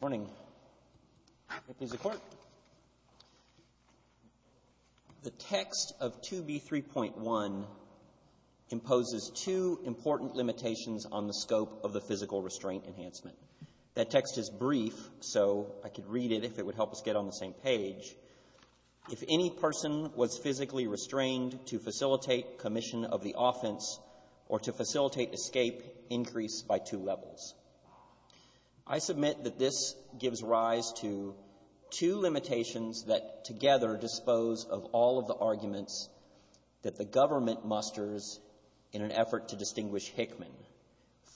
Morning. The text of 2b 3.1 imposes two important limitations on the scope of the physical restraint enhancement. That text is brief so I could read it if it would help us get on the same page. If any person was physically restrained to facilitate commission of the offense or to facilitate escape increase by two levels, I submit that this gives rise to two limitations that together dispose of all of the arguments that the government musters in an effort to distinguish Hickman.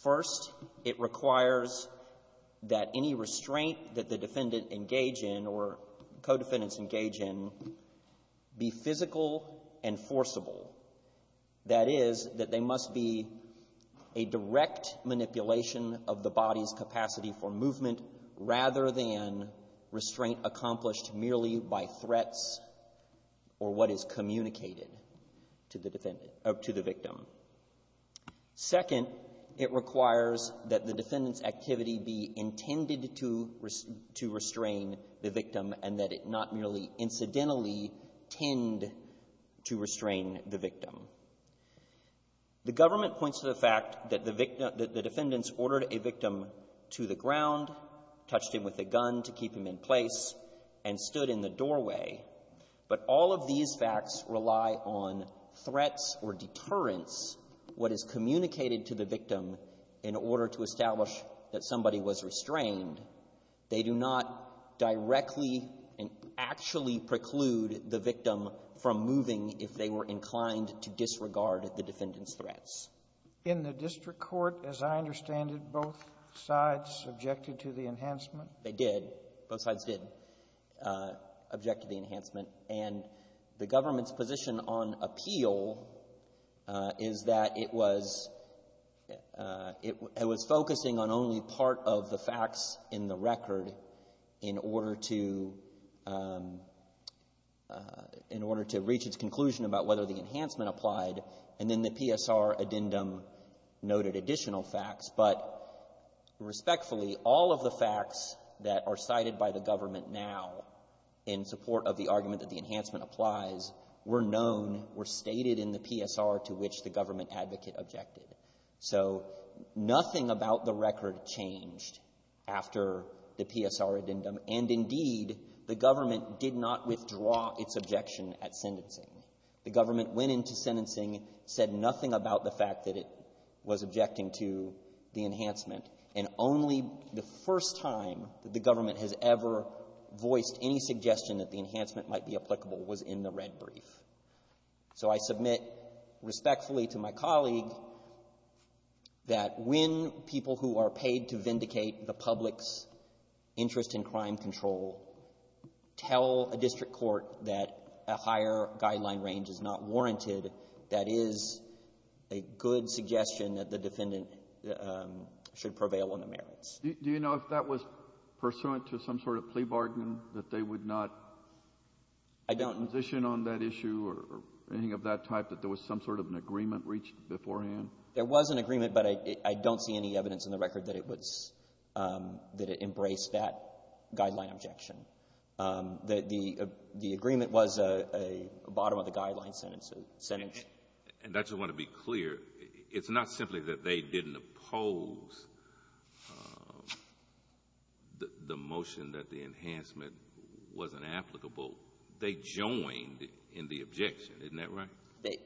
First, it requires that any restraint that the defendant engage in or co-defendants engage in be physical and forcible. That is, that they must be a reflection of the body's capacity for movement rather than restraint accomplished merely by threats or what is communicated to the victim. Second, it requires that the defendant's activity be intended to restrain the victim and that it not merely incidentally tend to restrain the victim. The government points to the fact that the defendants ordered a victim to the ground, touched him with a gun to keep him in place, and stood in the doorway. But all of these facts rely on threats or deterrence, what is communicated to the victim in order to establish that somebody was restrained. They do not directly and actually preclude the victim from moving if they were inclined to disregard the defendant's threats. In the district court, as I understand it, both sides objected to the enhancement? They did. Both sides did object to the enhancement. And the government's position on appeal is that it was focusing on only part of the facts in the record in order to reach its conclusion about whether the enhancement applied. And then the PSR addendum noted additional facts. But respectfully, all of the facts that are cited by the government now in support of the argument that the enhancement applies were known, were stated in the PSR to which the government advocate objected. So nothing about the record changed after the PSR addendum. And indeed, the government did not withdraw its objection at sentencing. The government went into sentencing, said nothing about the fact that it was objecting to the enhancement. And only the first time that the government has ever voiced any suggestion that the enhancement might be applicable was in the red brief. So I submit respectfully to my colleague that when people who are paid to vindicate the public's interest in crime control tell a district court that a higher guideline range is not warranted, that is a good suggestion that the defendant should prevail on the merits. Do you know if that was pursuant to some sort of plea bargain, that they would not position on that issue or anything of that type, that there was some sort of an agreement reached beforehand? There was an agreement, but I don't see any evidence in the record that it embraced that guideline objection. The agreement was a bottom-of-the-guideline sentence. And I just want to be clear, it's not simply that they didn't oppose the motion that the enhancement wasn't applicable. They joined in the objection. Isn't that right?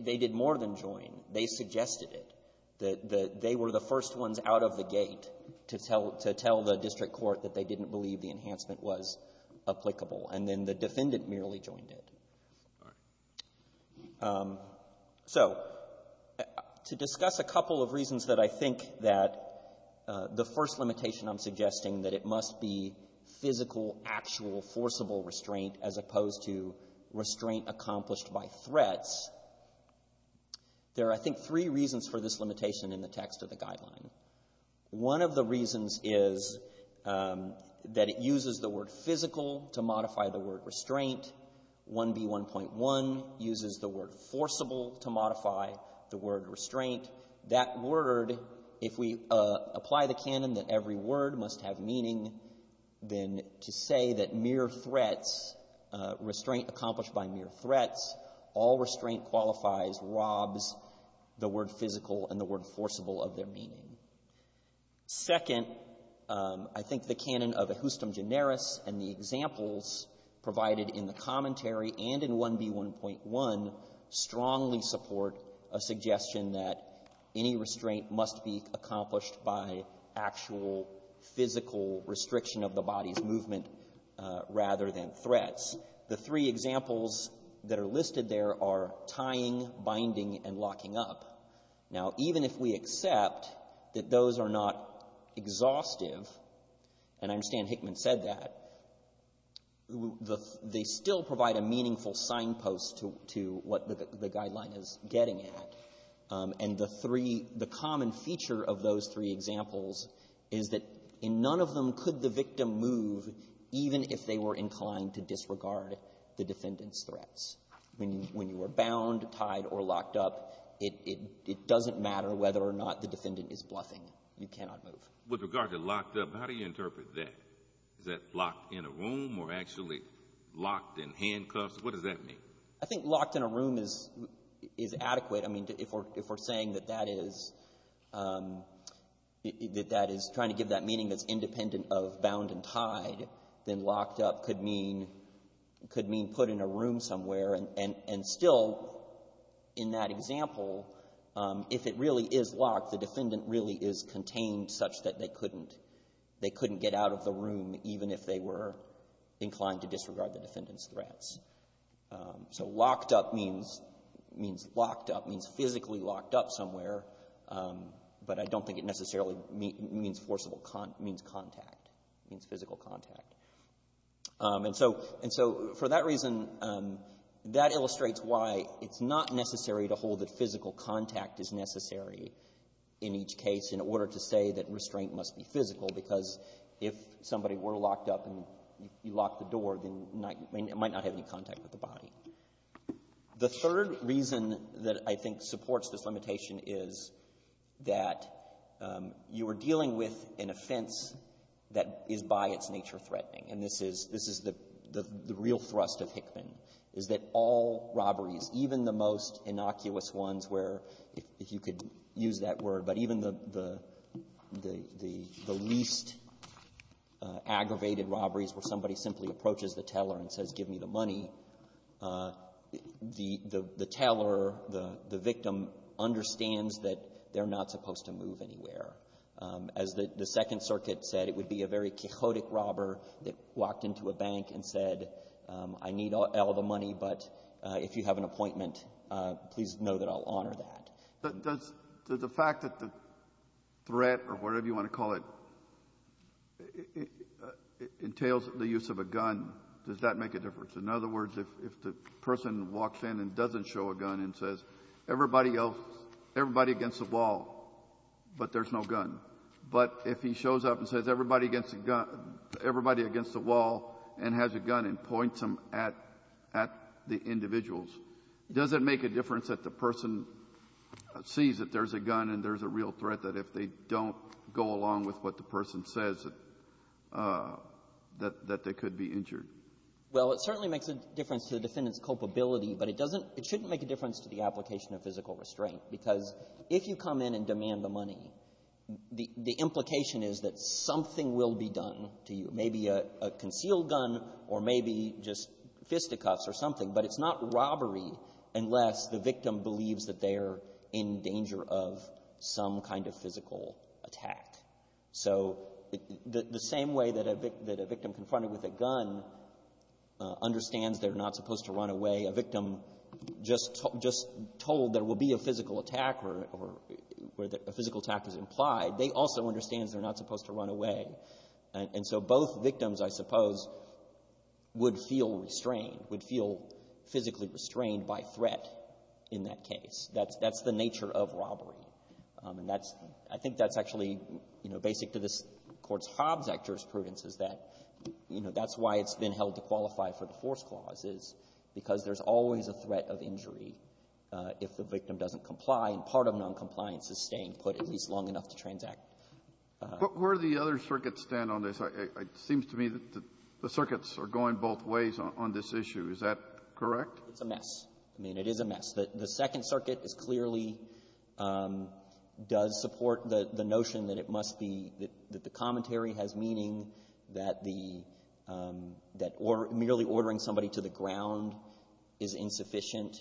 They did more than join. They suggested it. They were the first ones out of the gate to tell the district court that they didn't believe the enhancement was applicable. And then the defendant merely joined it. So, to discuss a couple of reasons that I think that the first limitation I'm suggesting that it must be physical, actual, forcible restraint as opposed to restraint accomplished by threats, there are, I think, three reasons for this limitation in the text of the guideline. One of the reasons is that it uses the word physical to modify the word restraint. AB 1.1 uses the word forcible to modify the word restraint. That word, if we apply the canon that every word must have meaning, then to say that mere threats, restraint accomplished by mere threats, all restraint qualifies, robs the word physical and the word forcible of their meaning. Second, I think the canon of a justum generis and the examples provided in the commentary and in 1B1.1 strongly support a suggestion that any restraint must be accomplished by actual physical restriction of the body's movement rather than threats. The three examples that are listed there are tying, binding, and locking up. Now, even if we accept that those are not exhaustive, and I understand Hickman said that, they still provide a meaning full signpost to what the guideline is getting at. And the three, the common feature of those three examples is that in none of them could the victim move even if they were inclined to disregard the defendant's threats. When you are bound, tied, or locked up, it doesn't matter whether or not the defendant is bluffing. You cannot move. With regard to locked up, how do you interpret that? Is that locked in a room or actually locked in handcuffs? What does that mean? I think locked in a room is adequate. I mean, if we're saying that that is trying to give that meaning that's independent of bound and tied, then locked up could mean put in a room somewhere. And still, in that example, if it really is locked, the defendant really is contained such that they couldn't get out of the room even if they were inclined to disregard the defendant's threats. So locked up means locked up, means physically locked up somewhere, but I don't think it necessarily means contact, means physical contact. And so for that reason, that illustrates why it's not necessary to hold that physical contact is necessary in each case in order to say that restraint must be physical, because if somebody were locked up and you locked the door, then it might not have any contact with the body. The third reason that I think supports this limitation is that you are dealing with an offense that is by its nature threatening, and this is the real thrust of Hickman, is that all robberies, even the most innocuous ones where, if you could use that word, but the least aggravated robberies where somebody simply approaches the teller and says, give me the money, the teller, the victim, understands that they're not supposed to move anywhere. As the Second Circuit said, it would be a very chaotic robber that walked into a bank and said, I need all the money, but if you have an appointment, please know that I'll honor that. Does the fact that the threat or whatever you want to call it entails the use of a gun, does that make a difference? In other words, if the person walks in and doesn't show a gun and says, everybody else, everybody against the wall, but there's no gun, but if he shows up and says everybody against the wall and has a gun and points them at the individuals, does it make a difference that the person sees that there's a gun and there's a real threat, that if they don't go along with what the person says, that they could be injured? Well, it certainly makes a difference to the defendant's culpability, but it doesn't — it shouldn't make a difference to the application of physical restraint, because if you come in and demand the money, the implication is that something will be done to you, maybe a concealed gun or maybe just fisticuffs or something, but it's not robbery unless the victim believes that they're in danger of some kind of physical attack. So the same way that a victim confronted with a gun understands they're not supposed to run away, a victim just told there will be a physical attack or where a physical attack is implied, they also understand they're not supposed to run away, and so both victims, I suppose, would feel restrained, would feel physically restrained by threat in that case. That's the nature of robbery, and that's — I think that's actually, you know, basic to this Court's Hobbs Act jurisprudence, is that, you know, that's why it's been held to qualify for the force clause, is because there's always a threat of injury if the victim doesn't comply, and part of noncompliance is staying put at least long enough to transact. But where do the other circuits stand on this? It seems to me that the circuits are going both ways on this issue. Is that correct? It's a mess. I mean, it is a mess. The Second Circuit is clearly — does support the notion that it must be — that the commentary has meaning, that the — that merely ordering somebody to the ground is insufficient.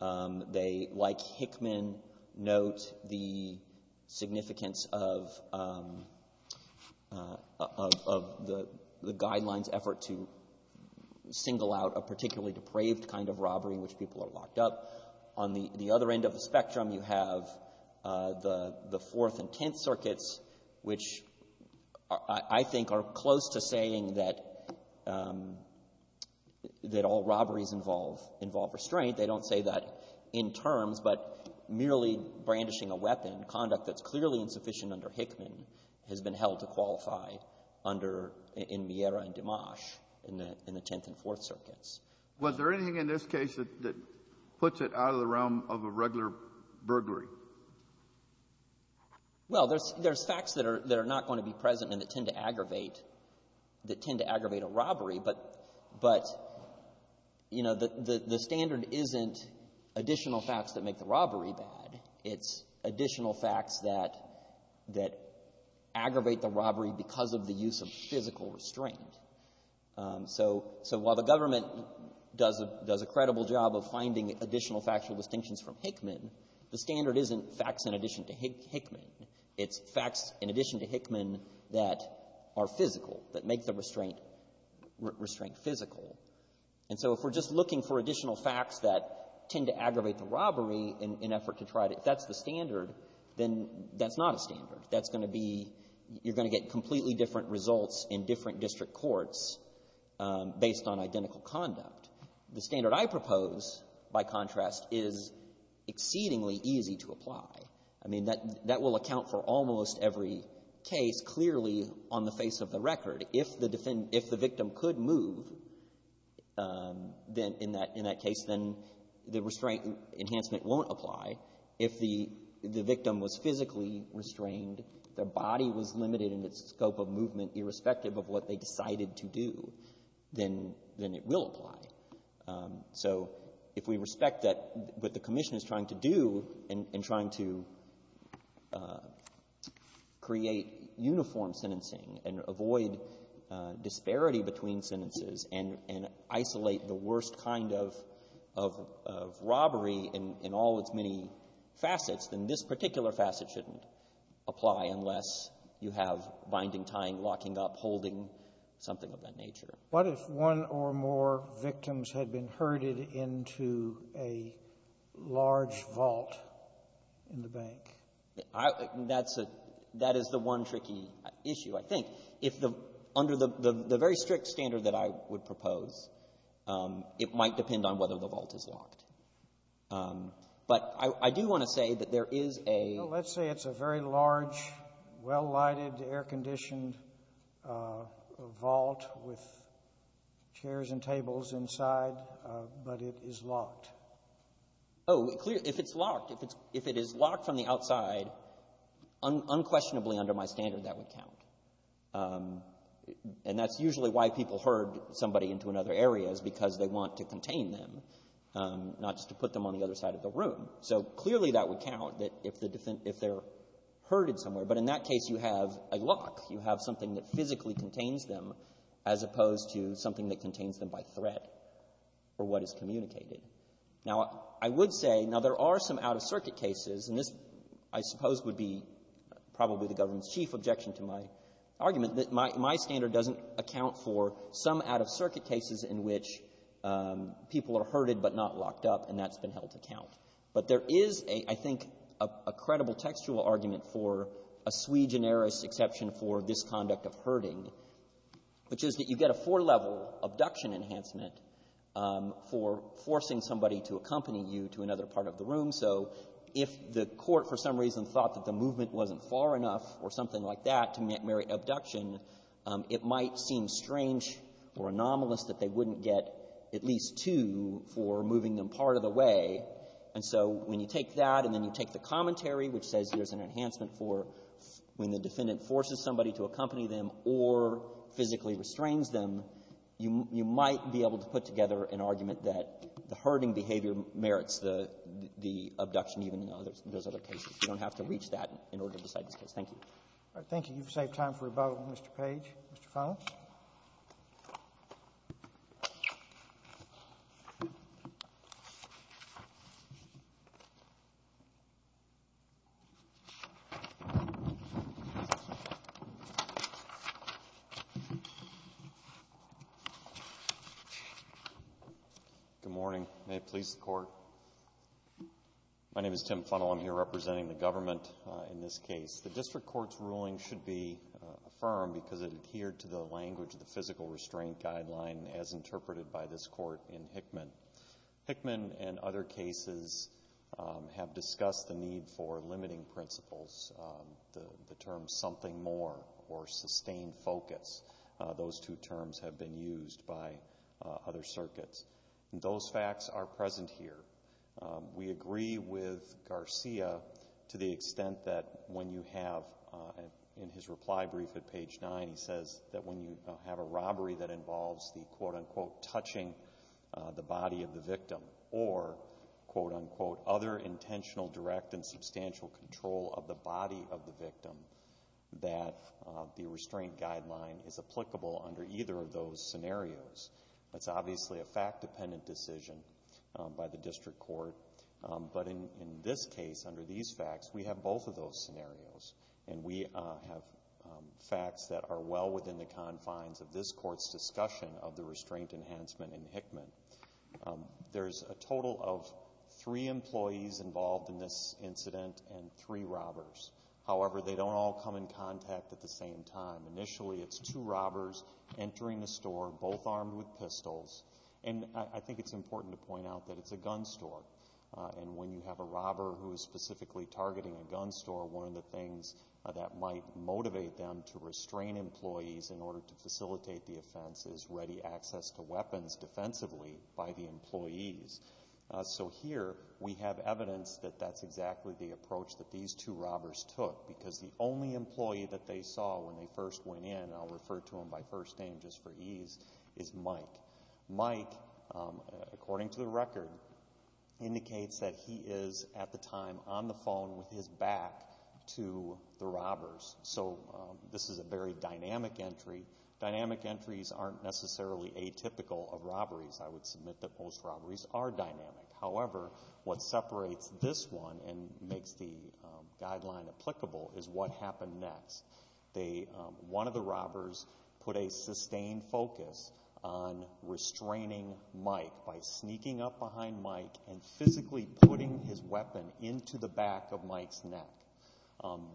They, like Hickman, note the significance of the guidelines' effort to single out a particularly depraved kind of robbery in which people are locked up. On the other end of the spectrum, you have the Fourth and Tenth Circuits, which I think are close to saying that all robberies involve restraint. They don't say that in terms, but merely brandishing a weapon, conduct that's clearly insufficient under Hickman, has been held to qualify under — in Miera and Dimash in the Tenth and Fourth Circuits. Was there anything in this case that puts it out of the realm of a regular burglary? Well, there's facts that are not going to be present and that tend to aggravate a robbery, but, you know, the standard isn't additional facts that make the robbery bad. It's additional facts that aggravate the robbery because of the use of physical restraint. So while the government does a credible job of finding additional factual distinctions from Hickman, the standard isn't facts in addition to Hickman. It's facts in addition to Hickman that are physical, that make the restraint physical. And so if we're just looking for additional facts that tend to aggravate the robbery in an effort to try to — if that's the standard, then that's not a standard. That's going to be — you're going to get completely different results in different district courts based on identical conduct. The standard I propose, by contrast, is exceedingly easy to apply. I mean, that will account for almost every case clearly on the face of the record. If the victim could move in that case, then the restraint enhancement won't apply. If the victim was physically restrained, their body was limited in its scope of movement irrespective of what they decided to do, then it will apply. So if we respect that — what the Commission is trying to do in trying to create uniform sentencing and avoid disparity between sentences and isolate the worst kind of robbery in all its many facets, then this particular facet shouldn't apply unless you have binding, untying, locking up, holding, something of that nature. What if one or more victims had been herded into a large vault in the bank? That's a — that is the one tricky issue, I think. If the — under the very strict standard that I would propose, it might depend on whether the vault is locked. But I do want to say that there is a — Let's say it's a very large, well-lighted, air-conditioned vault with chairs and tables inside, but it is locked. Oh, if it's locked, if it's — if it is locked from the outside, unquestionably under my standard, that would count. And that's usually why people herd somebody into another area is because they want to contain them, not just to put them on the other side of the room. So clearly that would count, that if the — if they're herded somewhere. But in that case, you have a lock. You have something that physically contains them as opposed to something that contains them by threat or what is communicated. Now, I would say — now, there are some out-of-circuit cases, and this, I suppose, would be probably the government's chief objection to my argument, that my — my standard doesn't account for some out-of-circuit cases in which people are herded but not locked up, and that's been held to count. But there is, I think, a credible textual argument for a sui generis exception for this conduct of herding, which is that you get a four-level abduction enhancement for forcing somebody to accompany you to another part of the room. So if the court for some reason thought that the movement wasn't far enough or something like that to merit abduction, it might seem strange or anomalous that they wouldn't get at least two for moving them part of the way. And so when you take that and then you take the commentary, which says there's an enhancement for when the defendant forces somebody to accompany them or physically restrains them, you might be able to put together an argument that the herding behavior merits the abduction even in those other cases. You don't have to reach that in order to decide this case. Thank you. Thank you. You've saved time for a vote, Mr. Page. Mr. Funnell. Good morning. May it please the Court. My name is Tim Funnell. I'm here representing the government in this case. The district court's ruling should be affirmed because it adhered to the language of the physical restraint guideline as interpreted by this court in Hickman. Hickman and other cases have discussed the need for limiting principles. The term something more or sustained focus, those two terms have been used by other circuits. And those facts are present here. We agree with Garcia to the extent that when you have, in his reply brief at page nine, he says that when you have a robbery that involves the quote unquote touching the body of the victim or quote unquote other intentional direct and substantial control of the body of the victim, that the restraint guideline is applicable under either of those scenarios. That's obviously a fact-dependent decision by the district court. But in this case, under these facts, we have both of those scenarios. And we have facts that are well within the confines of this court's discussion of the restraint enhancement in Hickman. There's a total of three employees involved in this incident and three robbers. However, they don't all come in contact at the same time. Initially, it's two robbers entering the store, both armed with pistols. And I think it's important to point out that it's a gun store. And when you have a robber who is specifically targeting a gun store, one of the things that might motivate them to restrain employees in order to facilitate the offense is ready access to weapons defensively by the employees. So here, we have evidence that that's exactly the approach that these two robbers took. Because the only employee that they saw when they first went in, and I'll refer to him by first name just for ease, is Mike. Mike, according to the record, indicates that he is, at the time, on the phone with his back to the robbers. So this is a very dynamic entry. Dynamic entries aren't necessarily atypical of robberies. I would submit that most robberies are dynamic. However, what separates this one and makes the guideline applicable is what happened next. One of the robbers put a sustained focus on restraining Mike by sneaking up behind Mike and physically putting his weapon into the back of Mike's neck.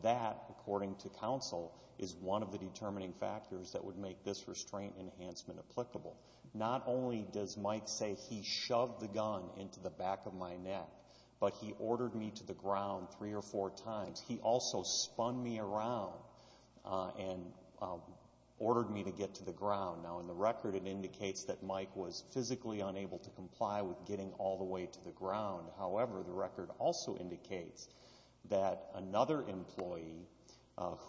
That, according to counsel, is one of the determining factors that would make this restraint enhancement applicable. Not only does Mike say he shoved the gun into the back of my neck, but he ordered me to the ground three or four times. He also spun me around and ordered me to get to the ground. Now, in the record, it indicates that Mike was physically unable to comply with getting all the way to the ground. However, the record also indicates that another employee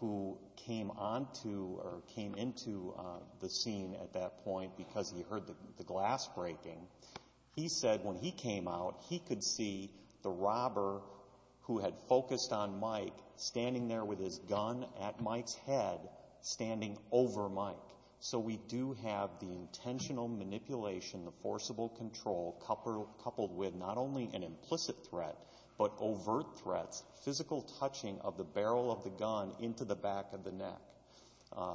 who came onto or came into the scene at that point because he heard the glass breaking, he said when he came out, he could see the robber who had focused on Mike standing there with his gun at Mike's head standing over Mike. So we do have the intentional manipulation, the forcible control coupled with not only an implicit threat, but overt threats, physical touching of the barrel of the gun into the back of the neck.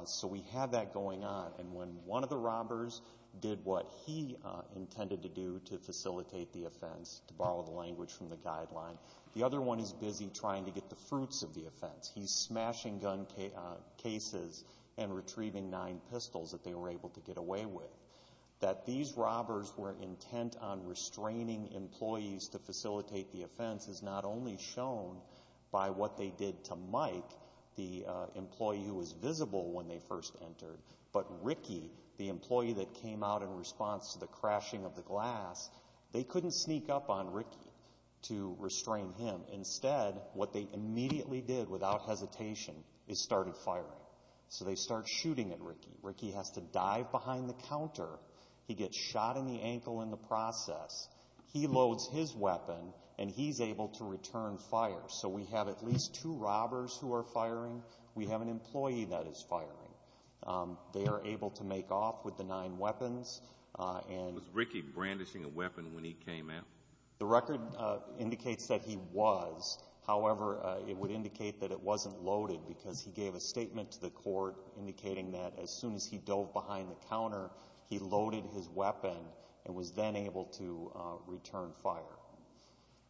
So we have that going on, and when one of the robbers did what he intended to do to facilitate the offense, to borrow the language from the guideline, the other one is busy trying to get the fruits of the offense. He's smashing gun cases and retrieving nine pistols that they were able to get away with. That these robbers were intent on restraining employees to facilitate the offense is not only shown by what they did to Mike, the employee who was visible when they first entered, but Ricky, the employee that came out in response to the crashing of the glass, they couldn't sneak up on Ricky to restrain him. Instead, what they immediately did without hesitation is started firing. So they start shooting at Ricky. Ricky has to dive behind the counter. He gets shot in the ankle in the process. He loads his weapon, and he's able to return fire. So we have at least two robbers who are firing. We have an employee that is firing. They are able to make off with the nine weapons. And. Was Ricky brandishing a weapon when he came out? The record indicates that he was. However, it would indicate that it wasn't loaded because he gave a statement to the court indicating that as soon as he dove behind the counter, he loaded his weapon and was then able to return fire.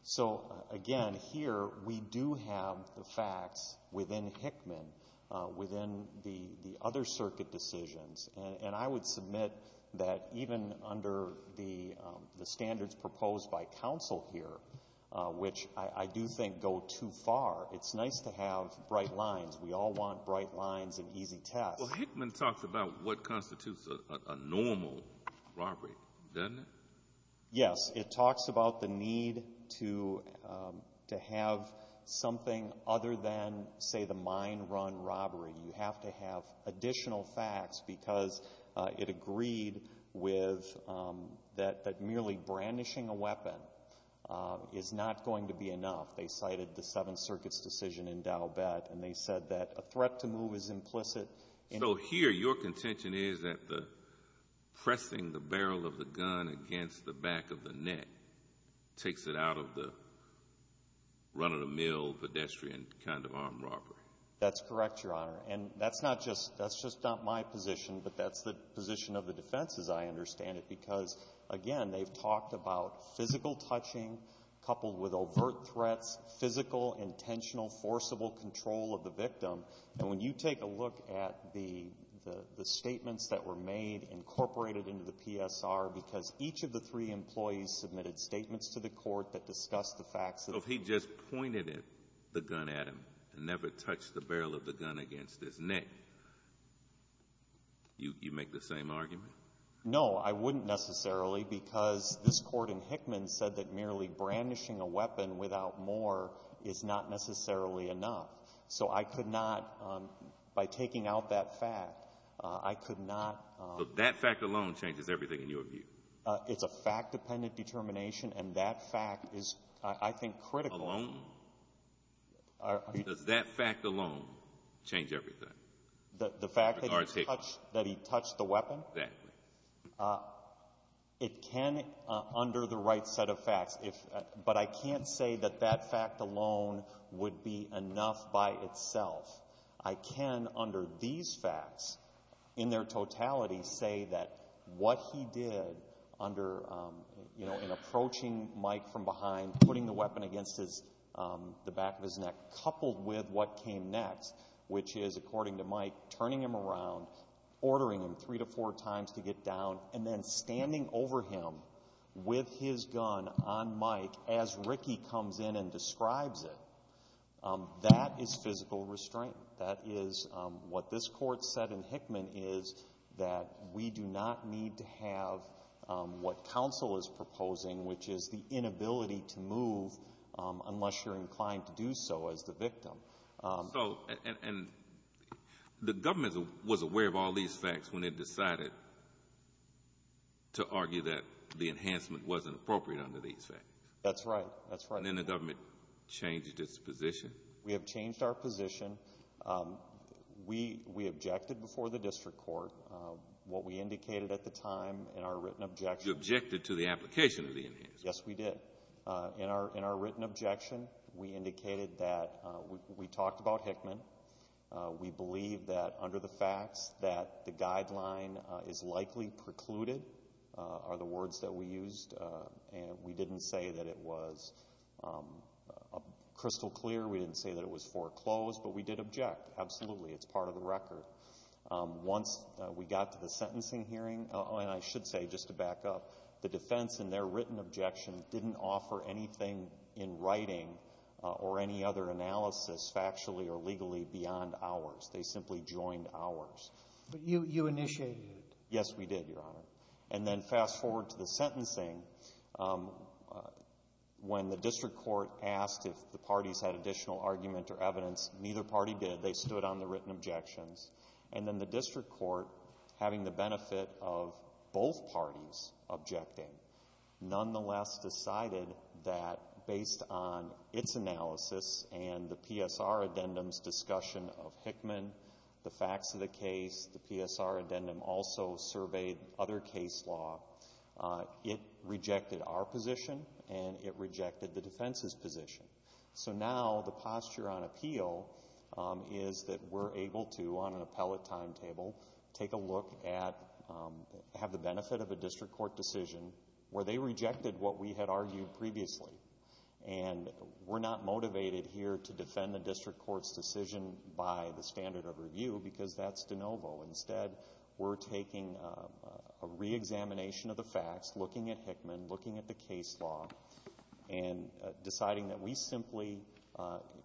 So again, here we do have the facts within Hickman, within the other circuit decisions. And I would submit that even under the standards proposed by counsel here, which I do think go too far, it's nice to have bright lines. We all want bright lines and easy tasks. Well, Hickman talks about what constitutes a normal robbery, doesn't it? Yes. It talks about the need to have something other than, say, the mine run robbery. You have to have additional facts because it agreed with that merely brandishing a weapon is not going to be enough. They cited the Seventh Circuit's decision in Dalbet, and they said that a threat to move is implicit. So here, your contention is that the pressing the barrel of the gun against the back of the net takes it out of the run-of-the-mill pedestrian kind of armed robbery. That's correct, Your Honor. And that's just not my position, but that's the position of the defense, as I understand it. Because again, they've talked about physical touching coupled with overt threats, physical, intentional, forcible control of the victim. And when you take a look at the statements that were made incorporated into the PSR, because each of the three employees submitted statements to the court that discussed the facts of- If he just pointed the gun at him and never touched the barrel of the gun against his neck, you'd make the same argument? No, I wouldn't necessarily, because this court in Hickman said that merely brandishing a weapon without more is not necessarily enough. So I could not, by taking out that fact, I could not- So that fact alone changes everything in your view? It's a fact-dependent determination, and that fact is, I think, critical- Alone? Does that fact alone change everything? The fact that he touched the weapon? Exactly. It can, under the right set of facts, but I can't say that that fact alone would be enough by itself. I can, under these facts, in their totality, say that what he did in approaching Mike from behind, putting the weapon against the back of his neck, coupled with what came next, which is, according to Mike, turning him around, ordering him three to four times to get down, and then standing over him with his gun on Mike as Ricky comes in and describes it, that is physical restraint. That is what this court said in Hickman, is that we do not need to have what counsel is proposing, which is the inability to move unless you're inclined to do so as the victim. So, and the government was aware of all these facts when it decided to argue that the enhancement wasn't appropriate under these facts? That's right, that's right. And then the government changed its position? We have changed our position. We objected before the district court. What we indicated at the time in our written objection- You objected to the application of the enhancement? Yes, we did. In our written objection, we indicated that, we talked about Hickman. We believe that under the facts that the guideline is likely precluded, are the words that we used. And we didn't say that it was crystal clear, we didn't say that it was foreclosed, but we did object. Absolutely, it's part of the record. Once we got to the sentencing hearing, and I should say, just to back up, the defense in their written objection didn't offer anything in writing or any other analysis, factually or legally, beyond ours. They simply joined ours. But you initiated it? Yes, we did, Your Honor. And then fast forward to the sentencing, when the district court asked if the parties had additional argument or evidence, neither party did. They stood on the written objections. And then the district court, having the benefit of both parties objecting, nonetheless decided that based on its analysis and the PSR addendum's discussion of Hickman, the facts of the case, the PSR addendum also surveyed other case law, it rejected our position and it rejected the defense's position. So now the posture on appeal is that we're able to, on an appellate timetable, take a look at, have the benefit of a district court decision where they rejected what we had argued previously. And we're not motivated here to defend the district court's decision by the standard of review, because that's de novo. Instead, we're taking a re-examination of the facts, looking at Hickman, looking at the case law, and deciding that we simply,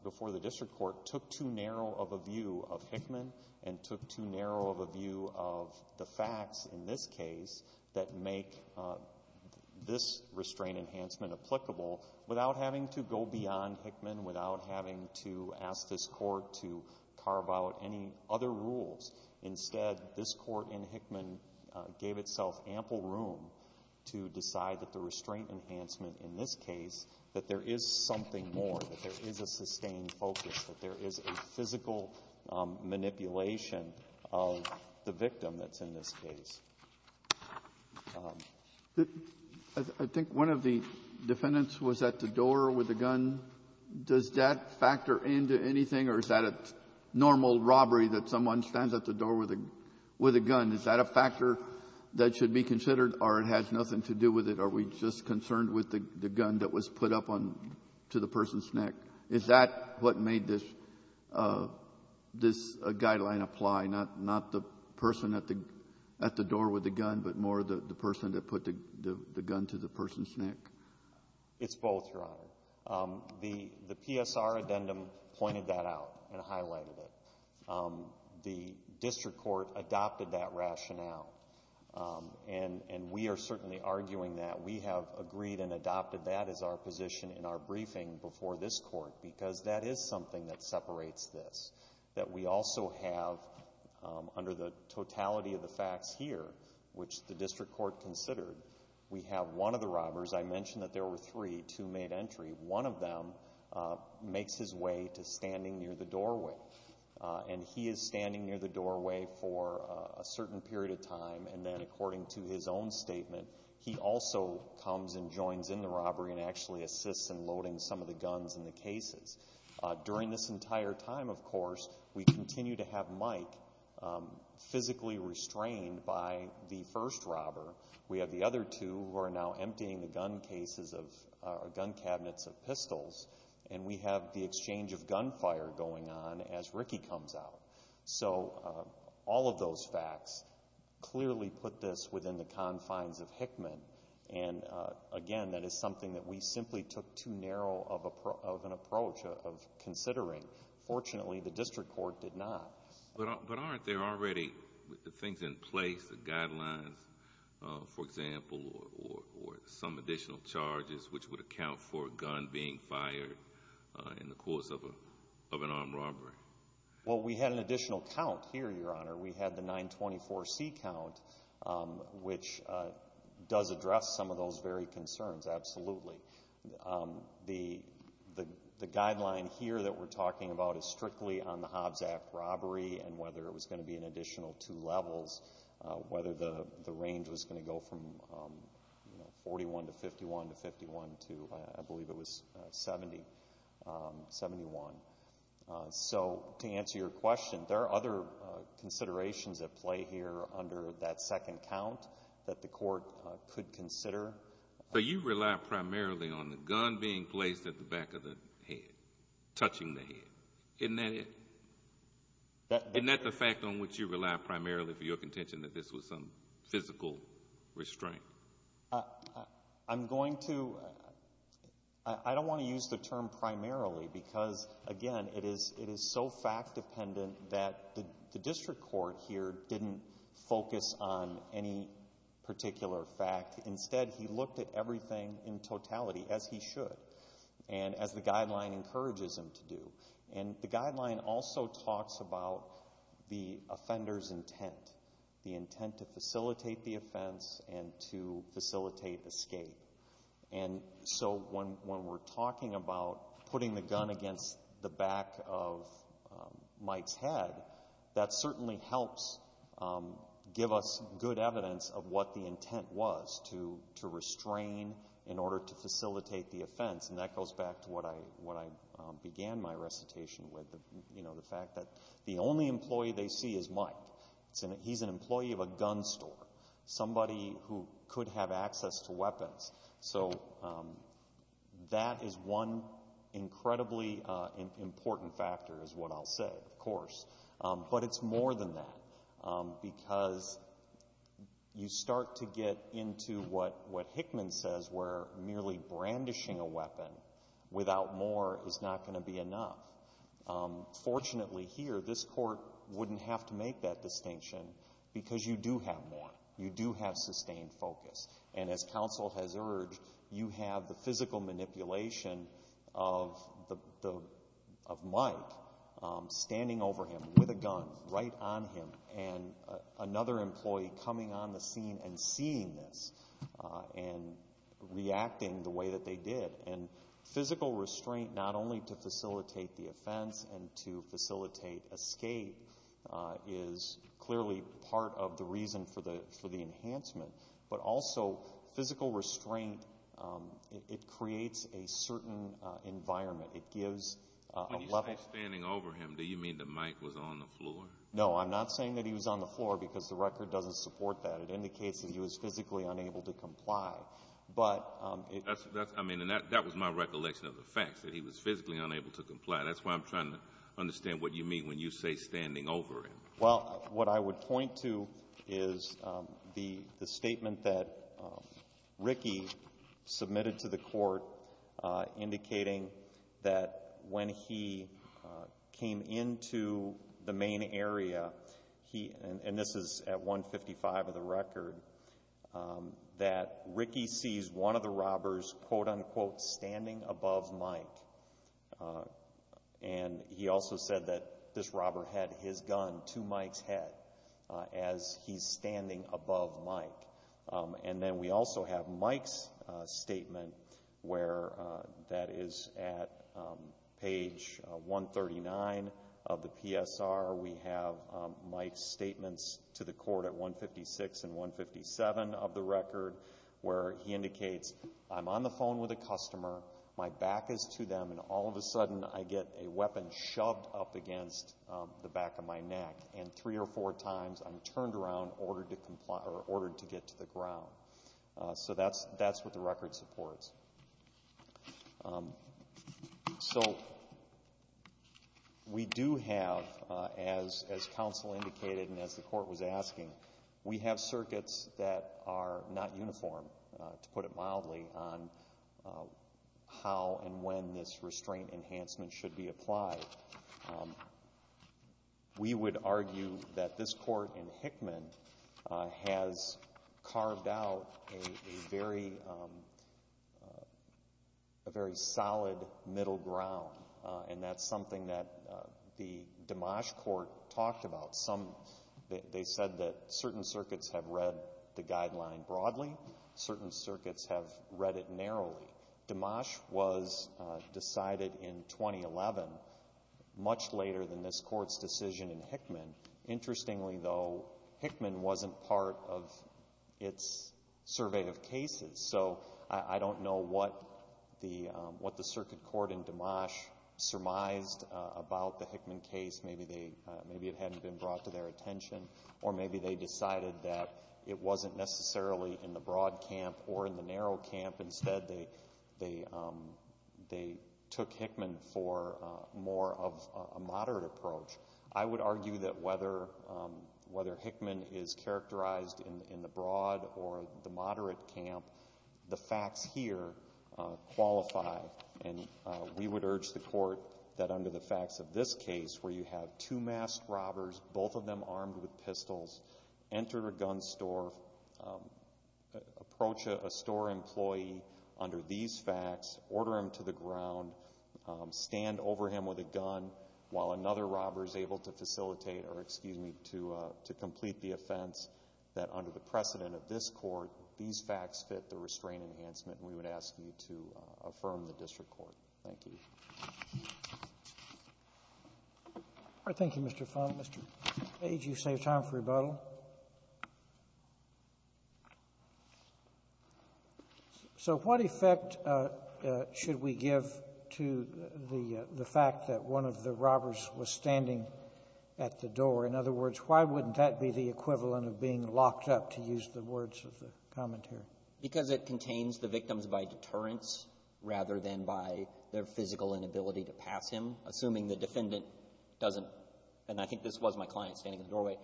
before the district court, took too narrow of a view of Hickman and took too narrow of a view of the facts in this case that make this restraint enhancement applicable without having to go beyond Hickman, without having to ask this court to carve out any other rules. Instead, this court in Hickman gave itself ample room to decide that the restraint enhancement in this case, that there is something more, that there is a sustained focus, that there is a physical manipulation of the victim that's in this case. I think one of the defendants was at the door with a gun. Does that factor into anything, or is that a normal robbery that someone stands at the door with a gun? Is that a factor that should be considered, or it has nothing to do with it? Are we just concerned with the gun that was put up to the person's neck? Is that what made this guideline apply, not the person at the door with the gun, but more the person that put the gun to the person's neck? It's both, Your Honor. The PSR addendum pointed that out and highlighted it. The district court adopted that rationale, and we are certainly arguing that. We have agreed and adopted that as our position in our briefing before this court because that is something that separates this, that we also have, under the totality of the facts here, which the district court considered, we have one of the robbers, I mentioned that there were three, two made entry, one of them makes his way to standing near the doorway. And he is standing near the doorway for a certain period of time, and then according to his own statement, he also comes and joins in the robbery and actually assists in loading some of the guns in the cases. During this entire time, of course, we continue to have Mike physically restrained by the first robber. We have the other two who are now emptying the gun cases of, or gun cabinets of pistols, and we have the exchange of gunfire going on as Ricky comes out. So all of those facts clearly put this within the confines of Hickman. And again, that is something that we simply took too narrow of an approach of considering. Fortunately, the district court did not. But aren't there already things in place, the guidelines, for example, or some additional charges which would account for a gun being fired in the course of an armed robbery? Well, we had an additional count here, Your Honor. We had the 924C count, which does address some of those very concerns, absolutely. The guideline here that we're talking about is strictly on the Hobbs Act robbery and whether it was going to be an additional two levels, whether the range was going to go from 41 to 51 to 51 to, I believe it was 70, 71. So to answer your question, there are other considerations at play here under that second count that the court could consider. So you rely primarily on the gun being placed at the back of the head, touching the head. Isn't that it? Isn't that the fact on which you rely primarily for your contention that this was some physical restraint? I'm going to, I don't want to use the term primarily because, again, it is so fact-dependent that the district court here didn't focus on any particular fact. Instead, he looked at everything in totality as he should and as the guideline encourages him to do. And the guideline also talks about the offender's intent, the intent to facilitate the offense and to facilitate escape. And so when we're talking about putting the gun against the back of Mike's head, that certainly helps give us good evidence of what the intent was to restrain in order to facilitate the offense, and that goes back to what I began my recitation with, you know, the fact that the only employee they see is Mike. He's an employee of a gun store, somebody who could have access to weapons. So that is one incredibly important factor is what I'll say, of course. But it's more than that because you start to get into what Hickman says where merely brandishing a weapon without more is not going to be enough. Fortunately here, this court wouldn't have to make that distinction because you do have more, you do have sustained focus. And as counsel has urged, you have the physical manipulation of Mike standing over him with a gun right on him and another employee coming on the scene and seeing this and reacting the way that they did. And physical restraint not only to facilitate the offense and to facilitate escape is clearly part of the reason for the enhancement, but also physical restraint, it creates a certain environment. It gives a level. When you say standing over him, do you mean that Mike was on the floor? No, I'm not saying that he was on the floor because the record doesn't support that. It indicates that he was physically unable to comply. But it. That's, I mean, and that was my recollection of the facts, that he was physically unable to comply. That's why I'm trying to understand what you mean when you say standing over him. Well, what I would point to is the statement that Ricky submitted to the court indicating that when he came into the main area, he, and this is at 155 of the record, that Ricky sees one of the robbers, quote unquote, standing above Mike. And he also said that this robber had his gun to Mike's head as he's standing above Mike. And then we also have Mike's statement where that is at page 139 of the PSR. We have Mike's statements to the court at 156 and 157 of the record where he indicates, I'm on the phone with a customer, my back is to them, and all of a sudden I get a weapon shoved up against the back of my neck. And three or four times I'm turned around, ordered to comply, or ordered to get to the ground. So that's what the record supports. So we do have, as counsel indicated and as the court was asking, we have circuits that are not uniform, to put it mildly, on how and when this restraint enhancement should be applied. We would argue that this court in Hickman has carved out a very solid middle ground. And that's something that the Dimash court talked about. Some, they said that certain circuits have read the guideline broadly. Certain circuits have read it narrowly. Dimash was decided in 2011, much later than this court's decision in Hickman. Interestingly though, Hickman wasn't part of its survey of cases. So I don't know what the circuit court in Dimash surmised about the Hickman case. Maybe it hadn't been brought to their attention. Or maybe they decided that it wasn't necessarily in the broad camp or in the narrow camp. Instead they took Hickman for more of a moderate approach. I would argue that whether Hickman is characterized in the broad or the moderate camp, the facts here qualify. And we would urge the court that under the facts of this case, where you have two masked robbers, both of them armed with pistols, enter a gun store, approach a store employee under these facts, order him to the ground, stand over him with a gun while another robber is able to facilitate or, excuse me, to complete the offense, that under the precedent of this court, these facts fit the restraint enhancement. And we would ask you to affirm the district court. Thank you. Thank you, Mr. Fung. Mr. Page, you saved time for rebuttal. So what effect should we give to the fact that one of the robbers was standing at the door? In other words, why wouldn't that be the equivalent of being locked up, to use the words of the commentator? Because it contains the victims by deterrence rather than by their physical inability to pass him, assuming the defendant doesn't, and I think this was my client standing at the doorway,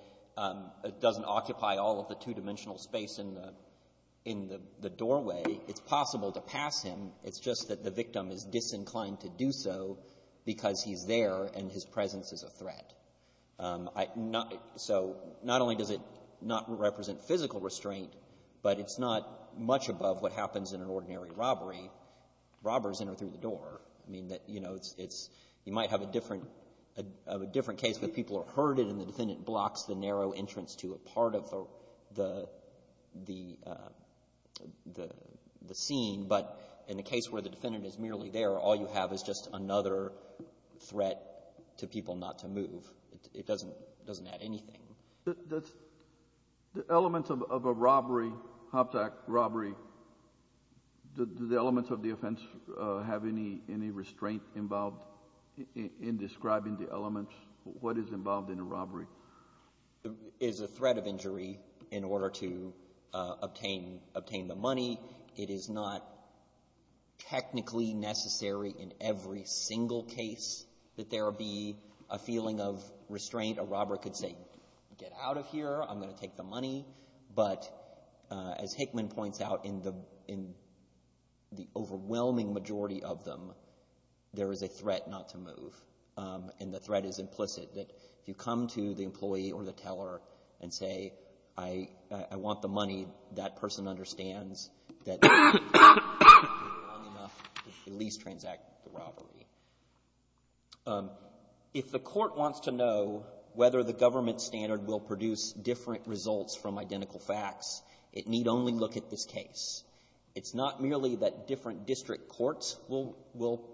doesn't occupy all of the two-dimensional space in the doorway. It's possible to pass him. It's just that the victim is disinclined to do so because he's there and his presence is a threat. So not only does it not represent physical restraint, but it's not much above what happens in an ordinary robbery. Robbers enter through the door. I mean, you know, you might have a different case where people are herded and the defendant blocks the narrow entrance to a part of the scene. But in the case where the defendant is merely there, all you have is just another threat to people not to move. It doesn't add anything. Does the element of a robbery, Hobbs Act robbery, does the element of the offense have any restraint involved in describing the element, what is involved in a robbery? It's a threat of injury in order to obtain the money. It is not technically necessary in every single case that there be a feeling of restraint. A robber could say, get out of here, I'm going to take the money. But as Hickman points out, in the overwhelming majority of them, there is a threat not to move. And the threat is implicit, that if you come to the employee or the teller and say, I want the money, that person understands that it's not enough to at least transact the robbery. If the court wants to know whether the government standard will produce different results from identical facts, it need only look at this case. It's not merely that different district courts will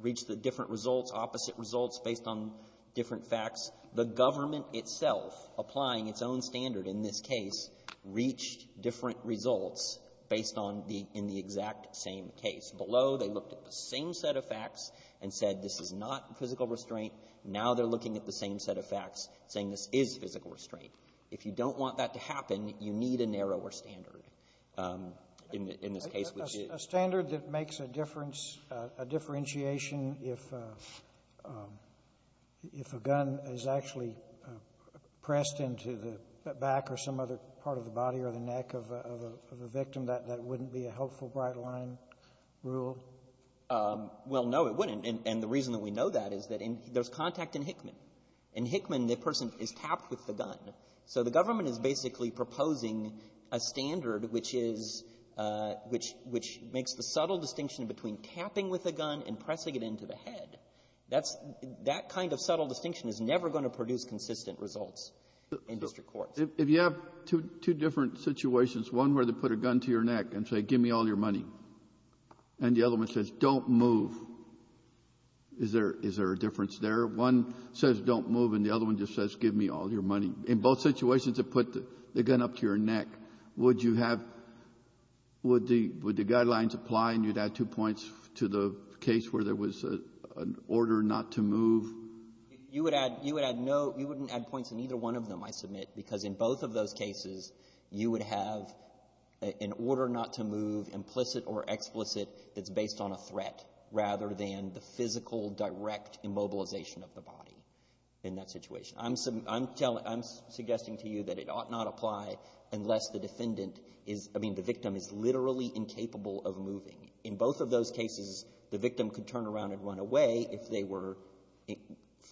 reach the different results, opposite results based on different facts. The government itself, applying its own standard in this case, reached different results based on the exact same case. Below, they looked at the same set of facts and said, this is not physical restraint. Now they're looking at the same set of facts, saying this is physical restraint. If you don't want that to happen, you need a narrower standard in this case, which is a standard that makes a difference, a differentiation, if a gun is actually pressed into the back or some other part of the body or the neck of a victim, that wouldn't be a helpful bright-line rule? Well, no, it wouldn't. And the reason that we know that is that there's contact in Hickman. In Hickman, the person is tapped with the gun. So the government is basically proposing a standard which is — which makes the subtle distinction between tapping with a gun and pressing it into the head. That's — that kind of subtle distinction is never going to produce consistent results in district courts. If you have two different situations, one where they put a gun to your neck and say, give me all your money, and the other one says, don't move, is there a difference there? One says, don't move, and the other one just says, give me all your money. In both situations, they put the gun up to your neck. Would you have — would the guidelines apply and you'd add two points to the case where there was an order not to move? You would add — you would add no — you wouldn't add points in either one of them, I submit, because in both of those cases, you would have an order not to move, implicit or explicit, that's based on a threat rather than the physical, direct immobilization of the body in that situation. I'm — I'm suggesting to you that it ought not apply unless the defendant is — I mean, the victim is literally incapable of moving. In both of those cases, the victim could turn around and run away if they were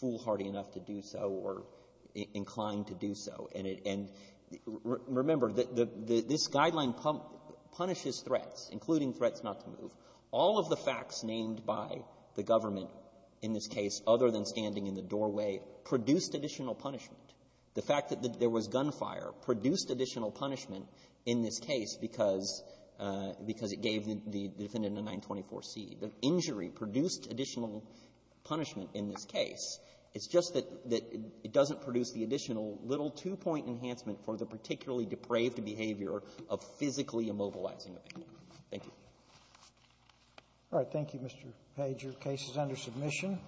foolhardy enough to do so or inclined to do so. And remember, this guideline punishes threats, including threats not to move. All of the facts named by the government in this case, other than standing in the doorway, produced additional punishment. The fact that there was gunfire produced additional punishment in this case because it gave the defendant a 924c. The injury produced additional punishment in this case. It's just that — that it doesn't produce the additional little two-point enhancement for the particularly depraved behavior of physically immobilizing the victim. Thank you. All right. Thank you, Mr. Page. Your case is under submission.